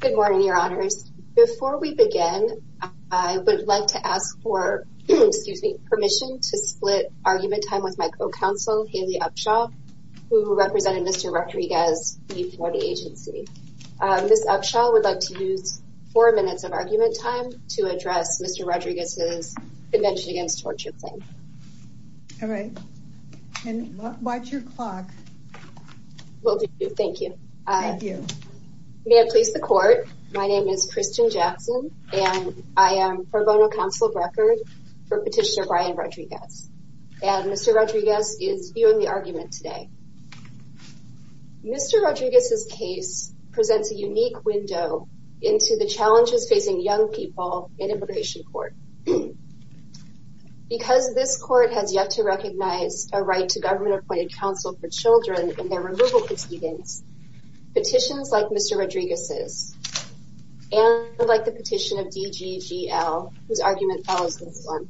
Good morning, your honors. Before we begin, I would like to ask for permission to split argument time with my co-counsel, Haley Upshaw, who represented Mr. Rodriguez before the agency. Ms. Upshaw would like to use four minutes of argument time to address Mr. Rodriguez's Convention Against Torture claim. All right. And watch your clock. Well, thank you. May I please the court. My name is Kristen Jackson, and I am pro bono counsel of record for Petitioner Brian Rodriguez. And Mr. Rodriguez is viewing the argument today. Mr. Rodriguez's case presents a unique window into the challenges facing young people in immigration court. Because this court has yet to recognize a right to government appointed counsel for children and their removal proceedings, petitions like Mr. Rodriguez's, and like the petition of DGGL, whose argument follows this one,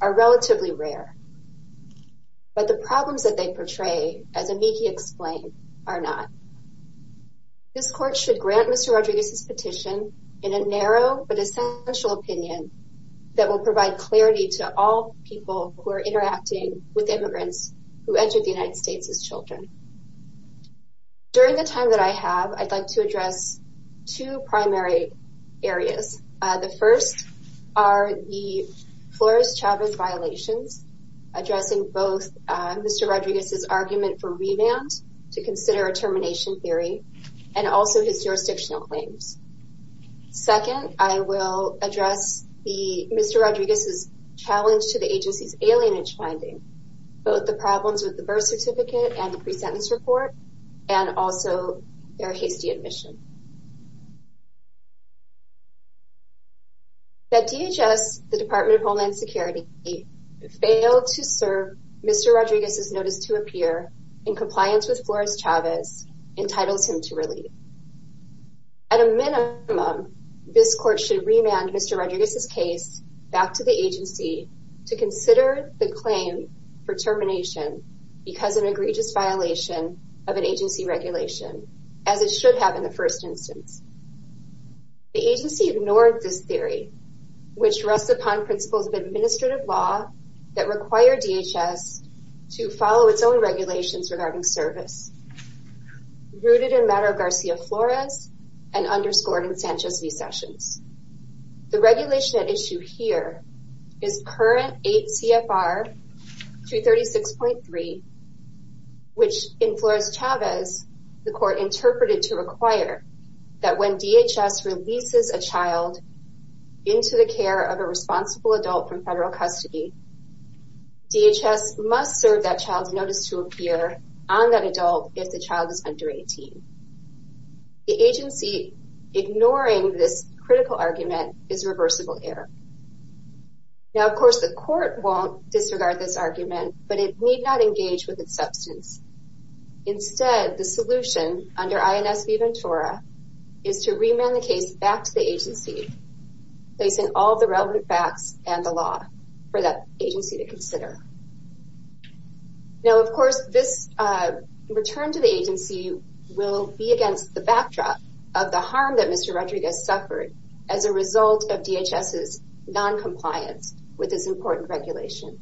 are relatively rare. But the problems that they portray, as amici explain, are not. This court should grant Mr. Rodriguez's petition in a narrow but essential opinion that will provide clarity to all people who are the United States' children. During the time that I have, I'd like to address two primary areas. The first are the Flores-Chavez violations, addressing both Mr. Rodriguez's argument for revamped to consider a termination theory, and also his jurisdictional claims. Second, I will address Mr. Rodriguez's challenge to the agency's alienage finding, both the problems with the birth certificate and the pre-sentence report, and also their hasty admission. That DHS, the Department of Homeland Security, failed to serve Mr. Rodriguez's in compliance with Flores-Chavez entitles him to relief. At a minimum, this court should remand Mr. Rodriguez's case back to the agency to consider the claim for termination because of an egregious violation of an agency regulation, as it should have in the first instance. The second issue is the following regulations regarding service, rooted in Madero-Garcia-Flores and underscored in Sanchez v. Sessions. The regulation at issue here is current 8 CFR 236.3, which in Flores-Chavez, the court interpreted to require that when DHS releases a child into the child's care, DHS must serve that child's notice to appear on that adult if the child is under 18. The agency ignoring this critical argument is reversible error. Now, of course, the court won't disregard this argument, but it need not engage with its substance. Instead, the solution under the agency to consider. Now, of course, this return to the agency will be against the backdrop of the harm that Mr. Rodriguez suffered as a result of DHS's noncompliance with this important regulation.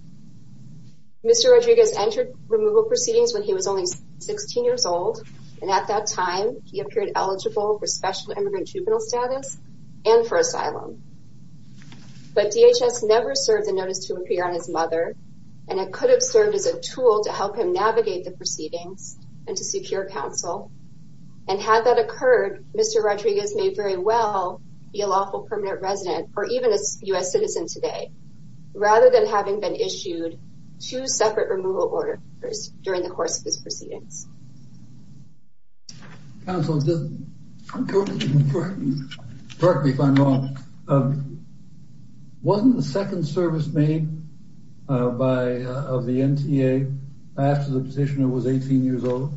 Mr. Rodriguez entered removal proceedings when he was only 16 years old, and at that time, he appeared eligible for special immigrant juvenile status and for asylum. But DHS never served the notice to appear on his mother, and it could have served as a tool to help him navigate the proceedings and to secure counsel. And had that occurred, Mr. Rodriguez may very well be a lawful permanent resident or even a U.S. citizen today, rather than having been issued two separate removal orders during the course of this proceedings. Counsel, correct me if I'm wrong. Wasn't the second service made by the NTA after the petitioner was 18 years old?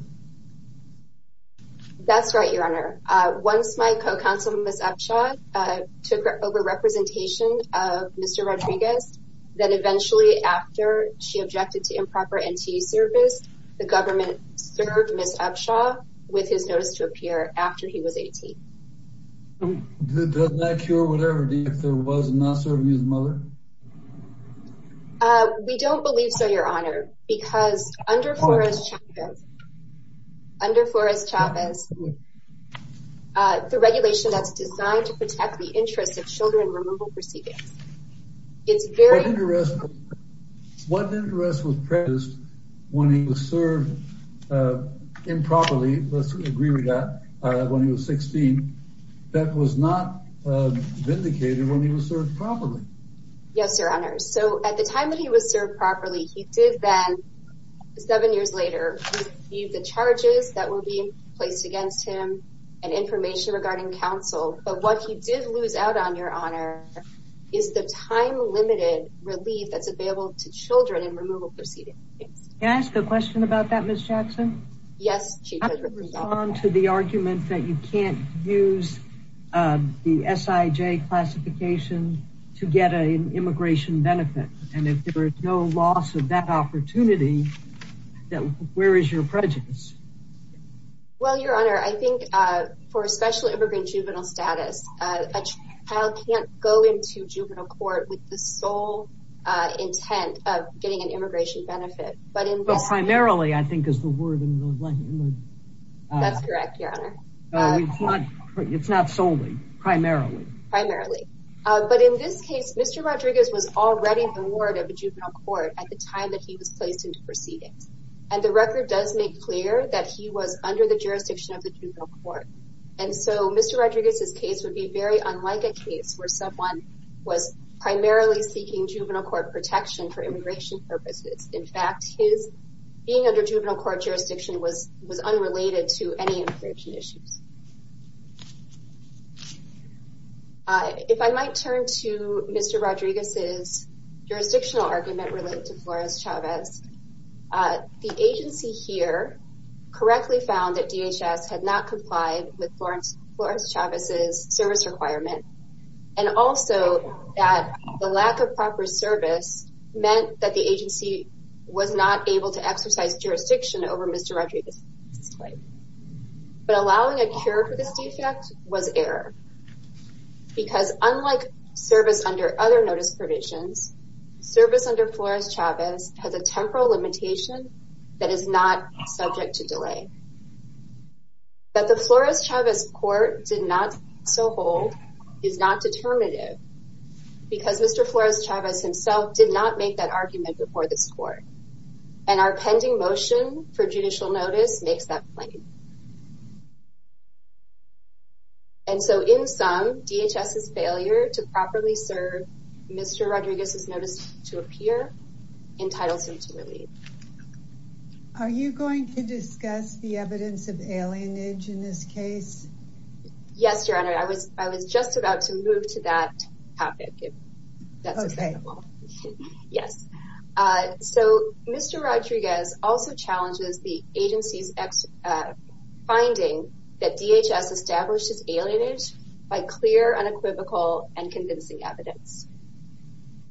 That's right, Your Honor. Once my co-counsel, Ms. Upshaw, took over representation of Mr. Rodriguez, then eventually after she objected to improper NTA service, the government served Ms. Upshaw with his notice to appear after he was 18. Does that cure whatever the answer was in not serving his mother? We don't believe so, Your Honor, because under Forrest Chavez, under Forrest Chavez, the regulation that's designed to protect the interests of children in removal proceedings, it's very... What interest was present when he was served improperly, let's agree with that, when he was 16, that was not vindicated when he was served properly? Yes, Your Honor. So at the time that he was served properly, he did then, seven years later, receive the charges that were being placed against him and information regarding counsel. But what he did lose out on, Your Honor, is the time-limited relief that's available to children in removal proceedings. Can I ask a question about that, Ms. Jackson? Yes, Chief Judge. How do you respond to the argument that you can't use the SIJ classification to get an immigration benefit? And if there is no loss of that opportunity, where is your prejudice? Well, Your Honor, I think for a special immigrant juvenile status, a child can't go into juvenile court with the sole intent of getting an immigration benefit. Primarily, I think, is the word. That's correct, Your Honor. It's not solely, primarily. Primarily. But in this case, Mr. Rodriguez was already in the ward of a juvenile court at the time that he was placed into proceedings. And the record does make clear that he was under the jurisdiction of the juvenile court. And so Mr. Rodriguez's case would be very unlike a case where someone was primarily seeking juvenile court protection for immigration purposes. In fact, his being under juvenile court jurisdiction was unrelated to any immigration issues. If I might turn to Mr. Rodriguez's jurisdictional argument related to Flores-Chavez. The agency here correctly found that DHS had not complied with Flores-Chavez's service requirement. And also that the lack of proper service meant that the agency was not able to exercise jurisdiction over Mr. Rodriguez's case. But allowing a cure for this defect was error. Because unlike service under other notice provisions, service under Flores-Chavez has a temporal limitation that is not subject to delay. That the Flores-Chavez court did not so hold is not determinative. Because Mr. Flores-Chavez himself did not make that argument before this court. And our pending motion for judicial notice makes that claim. And so in sum, DHS's failure to properly serve Mr. Rodriguez's notice to appear entitles him to leave. Are you going to discuss the evidence of alienage in this case? Yes, Your Honor. I was just about to move to that topic if that's acceptable. Yes, so Mr. Rodriguez also challenges the agency's finding that DHS establishes alienage by clear, unequivocal, and convincing evidence.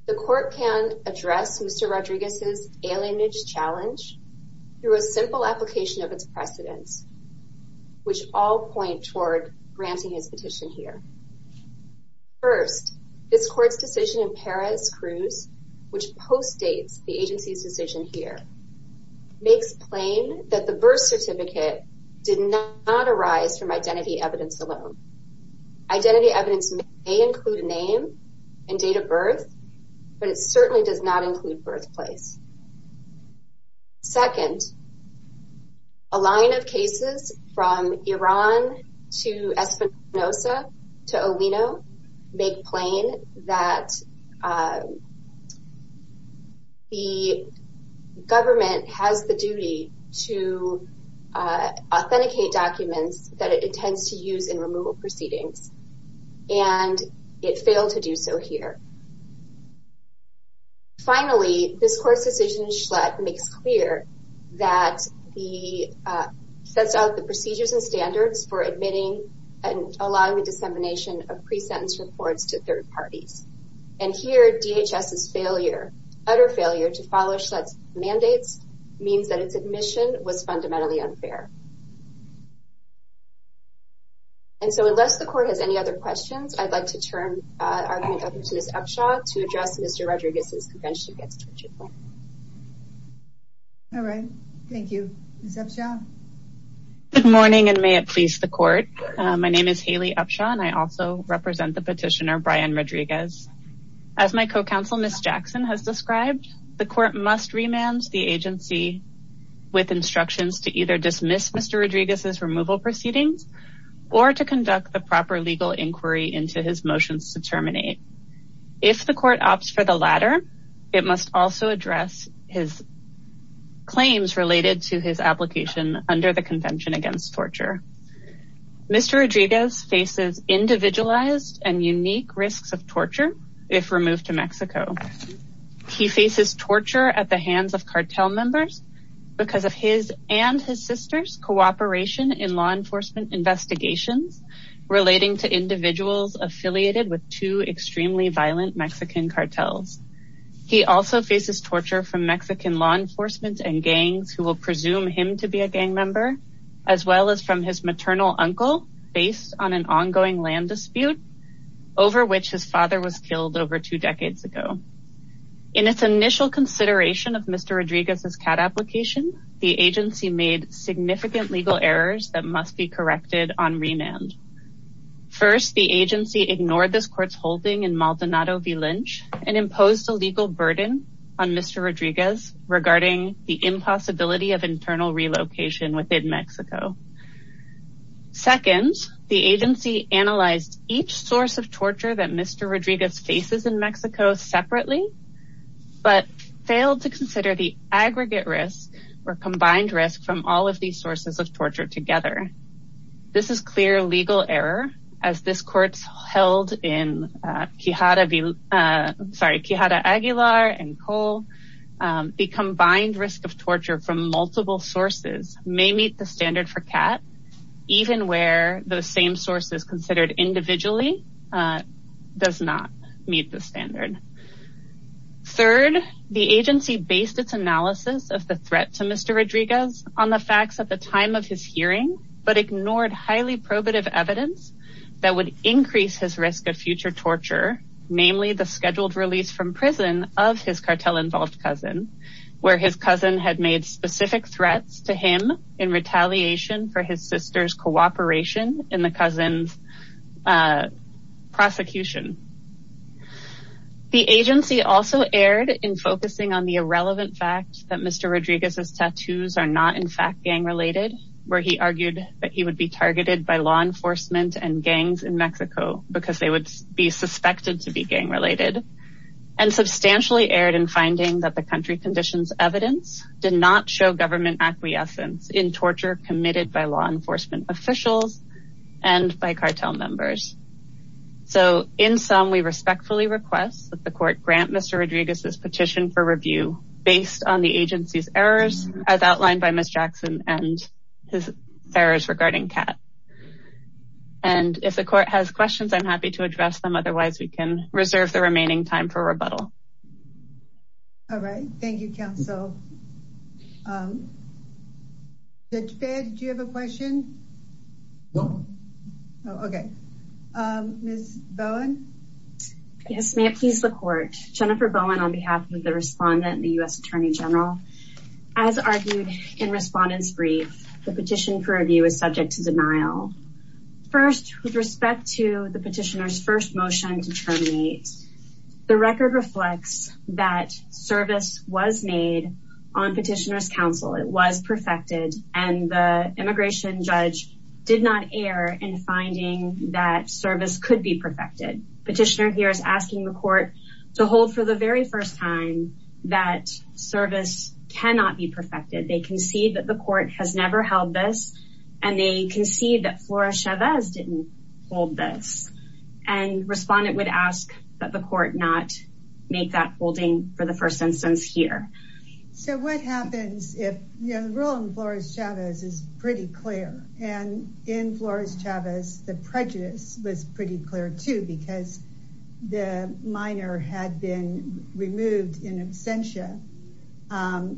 The court can address Mr. Rodriguez's alienage challenge through a simple application of its precedents. Which all point toward granting his petition here. First, this court's decision in Perez-Cruz, which postdates the agency's decision here, makes plain that the birth certificate did not arise from identity evidence alone. Identity evidence may include a name and date of birth, but it certainly does not include birthplace. Second, a line of cases from Iran to Espinosa to Olino make plain that the government has the duty to authenticate documents that it intends to use in removal proceedings. And it failed to do so here. Finally, this court's decision in Schlatt makes clear that it sets out the procedures and standards for admitting and allowing the dissemination of pre-sentence reports to third parties. And here, DHS's utter failure to follow Schlatt's mandates means that its admission was fundamentally unfair. And so, unless the court has any other questions, I'd like to turn argument over to Ms. Upshaw to address Mr. Rodriguez's convention against torture court. All right. Thank you. Ms. Upshaw. Good morning, and may it please the court. My name is Haley Upshaw, and I also represent the petitioner, Brian Rodriguez. As my co-counsel, Ms. Jackson, has described, the court must remand the agency with instructions to either dismiss the petition, dismiss Mr. Rodriguez's removal proceedings, or to conduct the proper legal inquiry into his motions to terminate. If the court opts for the latter, it must also address his claims related to his application under the convention against torture. Mr. Rodriguez faces individualized and unique risks of torture if removed to Mexico. He faces torture at the hands of cartel members because of his and his sister's cooperation in law enforcement investigations relating to individuals affiliated with two extremely violent Mexican cartels. He also faces torture from Mexican law enforcement and gangs who will presume him to be a gang member, as well as from his maternal uncle based on an ongoing land dispute over which his father was killed over two decades ago. In its initial consideration of Mr. Rodriguez's CAD application, the agency made significant legal errors that must be corrected on remand. First, the agency ignored this court's holding in Maldonado v. Lynch and imposed a legal burden on Mr. Rodriguez regarding the impossibility of internal relocation within Mexico. Second, the agency analyzed each source of torture that Mr. Rodriguez faces in Mexico separately, but failed to consider the aggregate risk or combined risk from all of these sources of torture together. This is clear legal error as this court's held in Quijada Aguilar and Cole. The combined risk of torture from multiple sources may meet the standard for CAD, even where the same source is considered individually does not meet the standard. Third, the agency based its analysis of the threat to Mr. Rodriguez on the facts at the time of his hearing, but ignored highly probative evidence that would increase his risk of future torture, namely the scheduled release from prison of his cartel-involved cousin, where his cousin had made specific threats to him in retaliation for his sister's cooperation in the cousin's prosecution. The agency also erred in focusing on the irrelevant fact that Mr. Rodriguez's tattoos are not in fact gang-related, where he argued that he would be targeted by law enforcement and gangs in Mexico because they would be suspected to be gang-related, and substantially erred in finding that the country conditions evidence did not show government acquiescence in torture committed by law enforcement officials and by cartel members. So in sum, we respectfully request that the court grant Mr. Rodriguez's petition for review based on the agency's errors as outlined by Ms. Jackson and his errors regarding CAD. And if the court has questions, I'm happy to address them. Otherwise, we can reserve the remaining time for rebuttal. All right. Thank you, counsel. Judge Baird, do you have a question? No. Okay. Ms. Bowen? Yes. May it please the court. Jennifer Bowen on behalf of the respondent and the U.S. Attorney General. As argued in respondent's brief, the petition for review is subject to denial. First, with respect to the petitioner's first motion to terminate, the record reflects that service was made on petitioner's counsel. It was perfected, and the immigration judge did not err in finding that service could be perfected. Petitioner here is asking the court to hold for the very first time that service cannot be perfected. They concede that the court has never held this, and they concede that Flores Chavez didn't hold this. And respondent would ask that the court not make that holding for the first instance here. So what happens if, you know, the role in Flores Chavez is pretty clear. And in Flores Chavez, the prejudice was pretty clear, too, because the minor had been removed in absentia.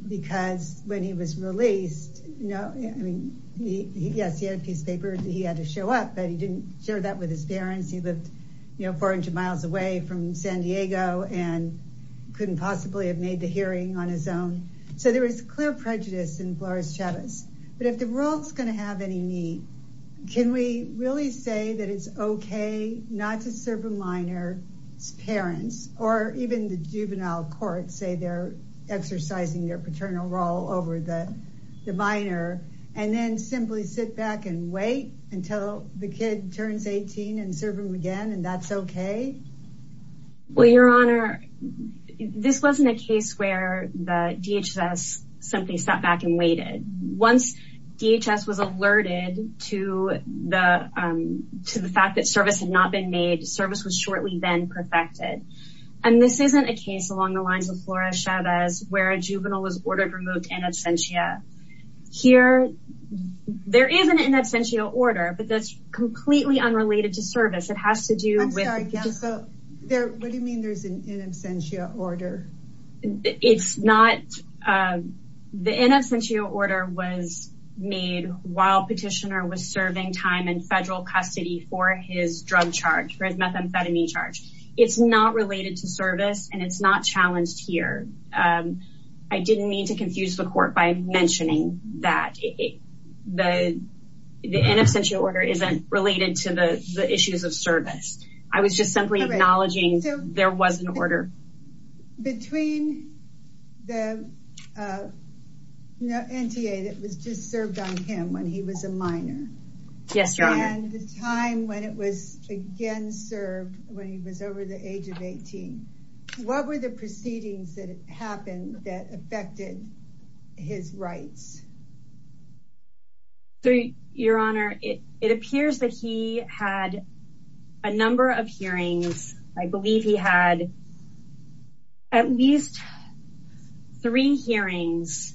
Because when he was released, you know, I mean, yes, he had a piece of paper that he had to show up, but he didn't share that with his parents. He lived, you know, 400 miles away from San Diego and couldn't possibly have made the hearing on his own. So there is clear prejudice in Flores Chavez. But if the role is going to have any need, can we really say that it's okay not to serve a minor's parents, or even the juvenile court, say they're exercising their paternal role over the minor, and then simply sit back and wait until the kid turns 18 and serve him again, and that's okay? Well, Your Honor, this wasn't a case where the DHS simply sat back and waited. Once DHS was alerted to the fact that service had not been made, service was shortly then perfected. And this isn't a case along the lines of Flores Chavez where a juvenile was ordered removed in absentia. Here, there is an in absentia order, but that's completely unrelated to service. It has to do with... I'm sorry, Gamsa, what do you mean there's an in absentia order? It's not... The in absentia order was made while Petitioner was serving time in federal custody for his drug charge, for his methamphetamine charge. It's not related to service, and it's not challenged here. I didn't mean to confuse the court by mentioning that the in absentia order isn't related to the issues of service. I was just simply acknowledging there was an order. Between the NTA that was just served on him when he was a minor... Yes, Your Honor. And the time when it was again served when he was over the age of 18. What were the proceedings that happened that affected his rights? Your Honor, it appears that he had a number of hearings. I believe he had at least three hearings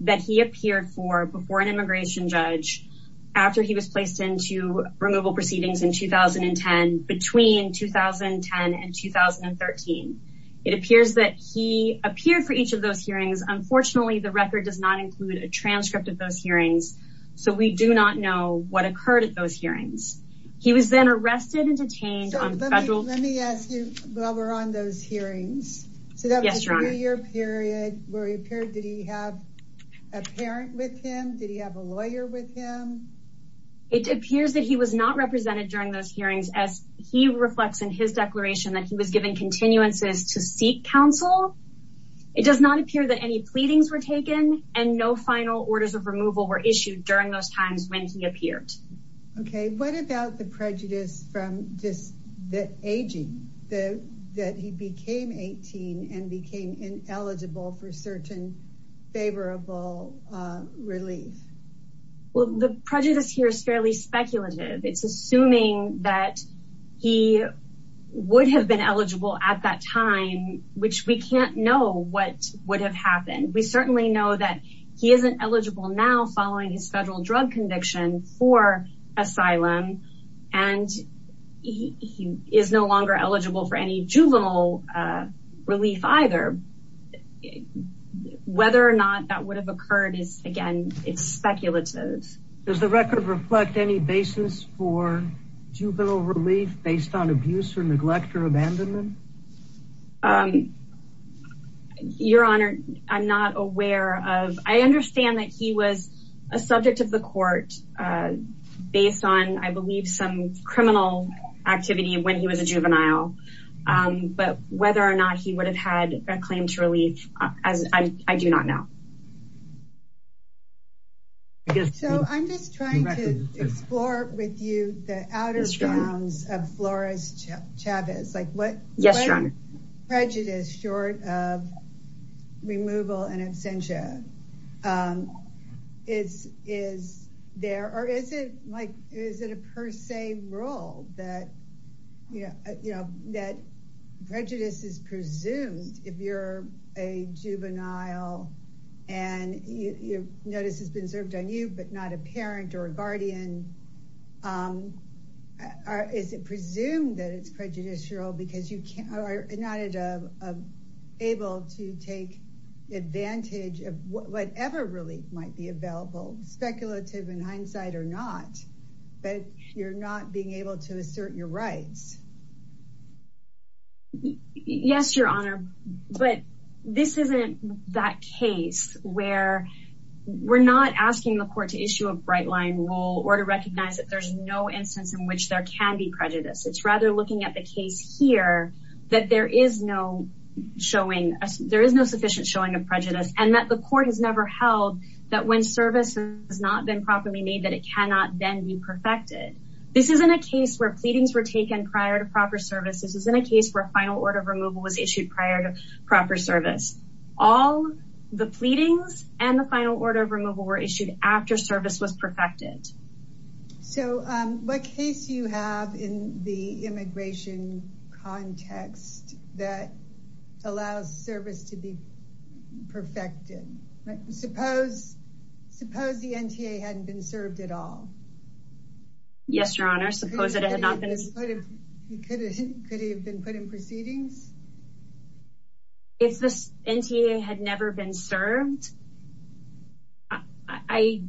that he appeared for before an immigration judge after he was placed into removal proceedings in 2010, between 2010 and 2013. It appears that he appeared for each of those hearings. Unfortunately, the record does not include a transcript of those hearings, so we do not know what occurred at those hearings. He was then arrested and detained on federal... Let me ask you while we're on those hearings. Yes, Your Honor. So that was a three-year period where he appeared. Did he have a parent with him? Did he have a lawyer with him? It appears that he was not represented during those hearings, as he reflects in his declaration that he was given continuances to seek counsel. It does not appear that any pleadings were taken, and no final orders of removal were issued during those times when he appeared. Okay. What about the prejudice from just the aging, that he became 18 and became ineligible for certain favorable relief? Well, the prejudice here is fairly speculative. It's assuming that he would have been eligible at that time, which we can't know what would have happened. We certainly know that he isn't eligible now following his federal drug conviction for asylum, and he is no longer eligible for any juvenile relief either. Whether or not that would have occurred is, again, it's speculative. Does the record reflect any basis for juvenile relief based on abuse or neglect or abandonment? Your Honor, I'm not aware of. I understand that he was a subject of the court based on, I believe, some criminal activity when he was a juvenile. But whether or not he would have had a claim to relief, I do not know. So I'm just trying to explore with you the outer bounds of Flores Chavez. Yes, Your Honor. What is prejudice short of removal and absentia? Or is it a per se rule that prejudice is presumed if you're a juvenile and notice has been served on you but not a parent or a guardian? Is it presumed that it's prejudicial because you are not able to take advantage of whatever relief might be available, speculative in hindsight or not, but you're not being able to assert your rights? Yes, Your Honor, but this isn't that case where we're not asking the court to issue a bright line rule or to recognize that there's no instance in which there can be prejudice. It's rather looking at the case here that there is no sufficient showing of prejudice and that the court has never held that when service has not been properly made, that it cannot then be perfected. This isn't a case where pleadings were taken prior to proper service. This isn't a case where a final order of removal was issued prior to proper service. All the pleadings and the final order of removal were issued after service was perfected. So what case do you have in the immigration context that allows service to be perfected? Suppose the NTA hadn't been served at all. Yes, Your Honor, suppose it had not been put in proceedings. If the NTA had never been served, I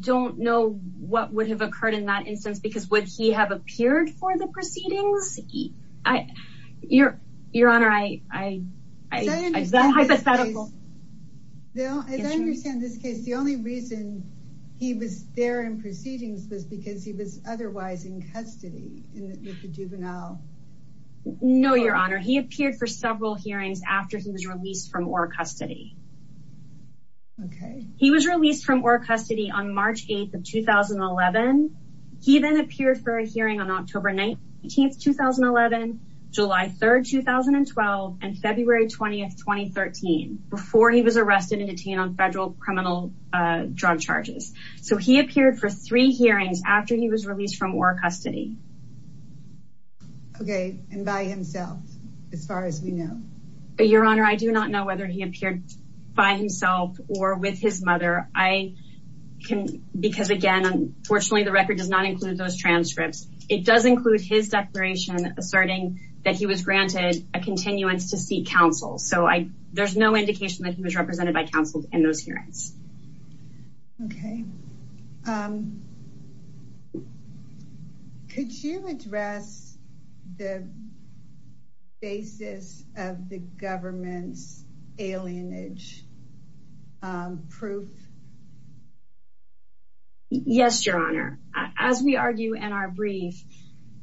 don't know what would have occurred in that instance, because would he have appeared for the proceedings? As I understand this case, the only reason he was there in proceedings was because he was otherwise in custody with the juvenile. No, Your Honor, he appeared for several hearings after he was released from ORRA custody. He was released from ORRA custody on March 8th of 2011. He then appeared for a hearing on October 19th, 2011, July 3rd, 2012, and February 20th, 2013, before he was arrested and detained on federal criminal drug charges. So he appeared for three hearings after he was released from ORRA custody. Okay, and by himself, as far as we know. Your Honor, I do not know whether he appeared by himself or with his mother, because again, unfortunately, the record does not include those transcripts. It does include his declaration asserting that he was granted a continuance to seek counsel. So there's no indication that he was represented by counsel in those hearings. Okay. Could you address the basis of the government's alienage proof? Yes, Your Honor. As we argue in our brief,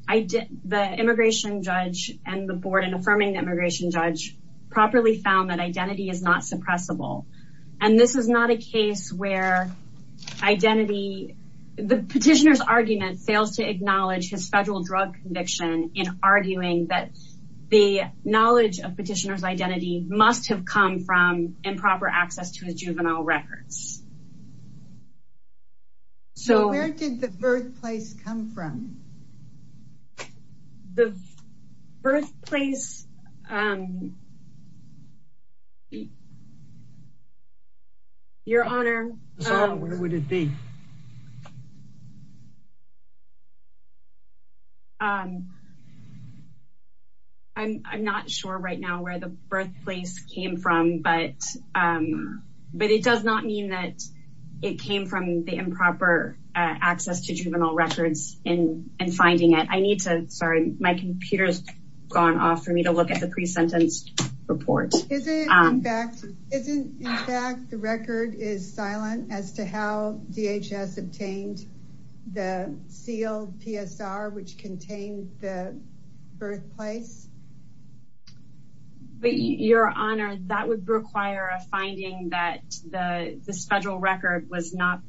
the immigration judge and the board in affirming the immigration judge properly found that identity is not suppressible. And this is not a case where identity, the petitioner's argument fails to acknowledge his federal drug conviction in arguing that the knowledge of petitioner's identity must have come from improper access to his juvenile records. So where did the birthplace come from? The birthplace. Your Honor. Where would it be? I'm not sure right now where the birthplace came from, but it does not mean that it came from the improper access to juvenile records in finding it. I need to, sorry, my computer's gone off for me to look at the pre-sentence report. Isn't in fact the record is silent as to how DHS obtained the sealed PSR, which contained the birthplace? Your Honor, that would require a finding that this federal record was not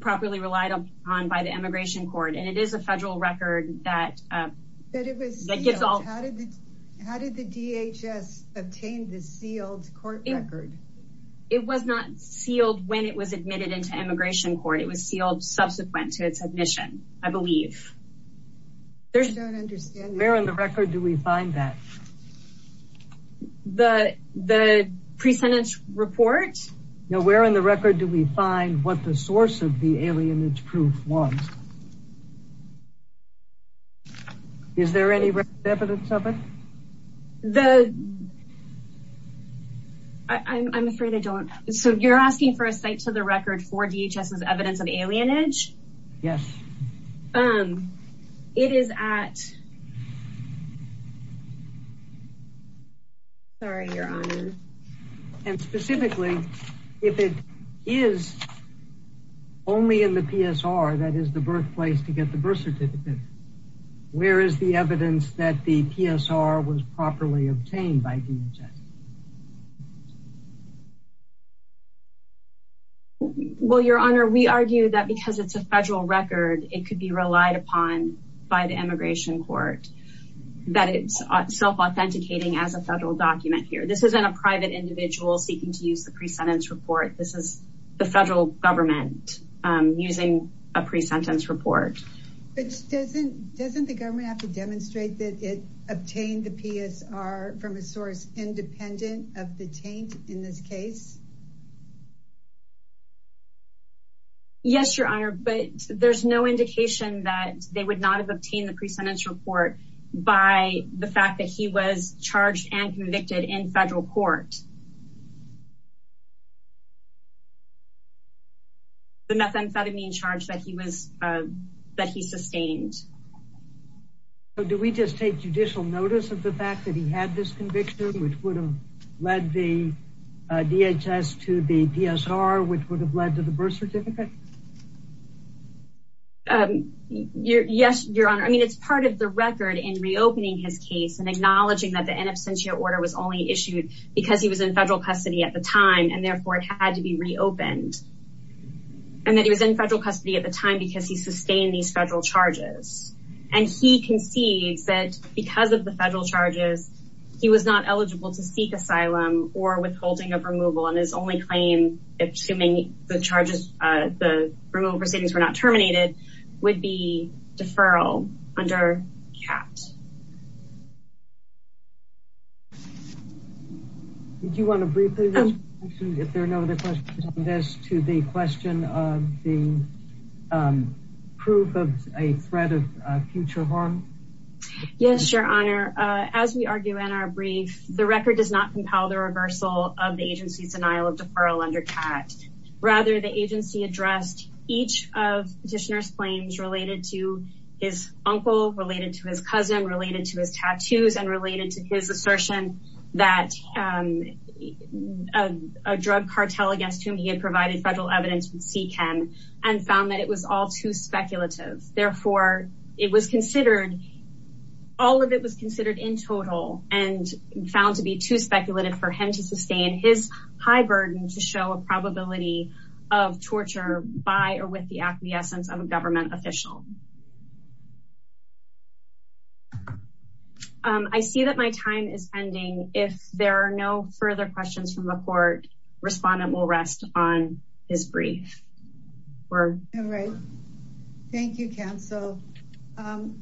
properly relied upon by the immigration court. And it is a federal record that gets all. How did the DHS obtain the sealed court record? It was not sealed when it was admitted into immigration court. It was sealed subsequent to its admission, I believe. I don't understand. Where in the record do we find that? The pre-sentence report? No, where in the record do we find what the source of the alienage proof was? Is there any evidence of it? I'm afraid I don't. So you're asking for a site to the record for DHS's evidence of alienage? Yes. It is at... Sorry, Your Honor. And specifically, if it is only in the PSR, that is the birthplace to get the birth certificate, where is the evidence that the PSR was properly obtained by DHS? Well, Your Honor, we argue that because it's a federal record, it could be relied upon by the immigration court, that it's self-authenticating as a federal document here. This isn't a private individual seeking to use the pre-sentence report. This is the federal government using a pre-sentence report. But doesn't the government have to demonstrate that it obtained the PSR from a source independent of the taint in this case? Yes, Your Honor, but there's no indication that they would not have obtained the pre-sentence report by the fact that he was charged and convicted in federal court. The methamphetamine charge that he sustained. So do we just take judicial notice of the fact that he had this conviction, which would have led the DHS to the PSR, which would have led to the birth certificate? Yes, Your Honor, I mean it's part of the record in reopening his case and acknowledging that the in absentia order was only issued because he was in federal custody at the time and therefore it had to be reopened. And that he was in federal custody at the time because he sustained these federal charges. And he concedes that because of the federal charges, he was not eligible to seek asylum or withholding of removal and his only claim, assuming the charges, the removal proceedings were not terminated, would be deferral under CAT. Did you want to briefly, if there are no other questions on this, to the question of the proof of a threat of future harm? Yes, Your Honor, as we argue in our brief, the record does not compel the reversal of the agency's denial of deferral under CAT. Rather, the agency addressed each of Petitioner's claims related to his uncle, related to his cousin, related to his tattoos, and related to his assertion that a drug cartel against whom he had provided federal evidence would seek him and found that it was all too speculative. Therefore, it was considered, all of it was considered in total and found to be too speculative for him to sustain his high burden to show a probability of torture by or with the acquiescence of a government official. I see that my time is ending. If there are no further questions from the court, respondent will rest on his brief. All right. Thank you, counsel.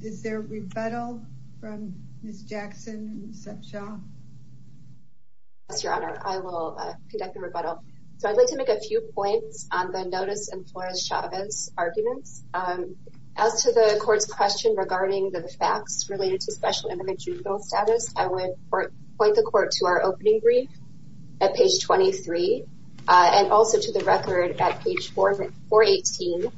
Is there a rebuttal from Ms. Jackson and Ms. Sepshaw? Yes, Your Honor, I will conduct a rebuttal. So I'd like to make a few points on the Notice and Flores-Chavez arguments. As to the court's question regarding the facts related to Special Immigrant Juvenile Status, I would point the court to our opening brief at page 23, and also to the record at page 418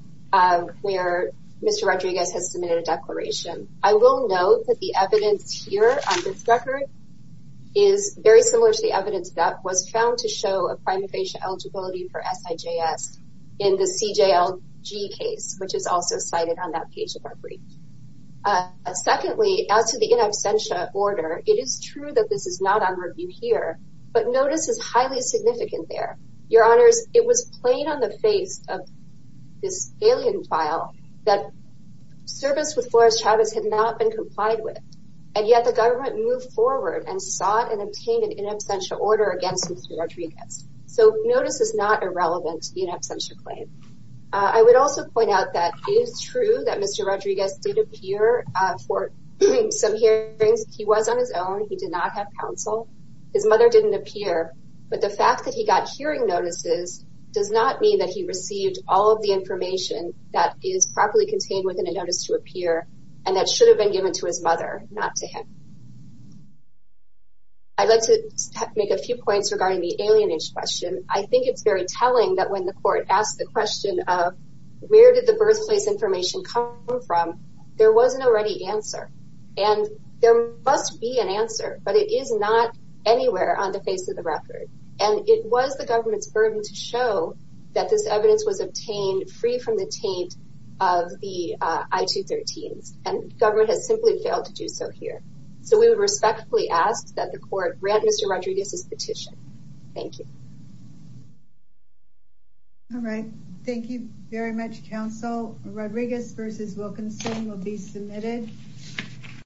where Mr. Rodriguez has submitted a declaration. I will note that the evidence here on this record is very similar to the evidence that was found to show a prima facie eligibility for SIJS in the CJLG case, which is also cited on that page of our brief. Secondly, as to the in absentia order, it is true that this is not on review here, but notice is highly significant there. Your Honors, it was plain on the face of this alien file that service with Flores-Chavez had not been complied with, and yet the government moved forward and sought and obtained an in absentia order against Mr. Rodriguez. So notice is not irrelevant to the in absentia claim. I would also point out that it is true that Mr. Rodriguez did appear for some hearings. He was on his own. He did not have counsel. His mother did not appear, but the fact that he got hearing notices does not mean that he received all of the information that is properly contained within a notice to appear and that should have been given to his mother, not to him. I would like to make a few points regarding the alienage question. I think it is very telling that when the court asked the question of where did the birthplace information come from, there was not already an answer. And there must be an answer, but it is not anywhere on the face of the record. And it was the government's burden to show that this evidence was obtained free from the taint of the I-213s. And government has simply failed to do so here. So we would respectfully ask that the court grant Mr. Rodriguez's petition. Thank you. All right. Thank you very much, counsel. Rodriguez v. Wilkinson will be submitted.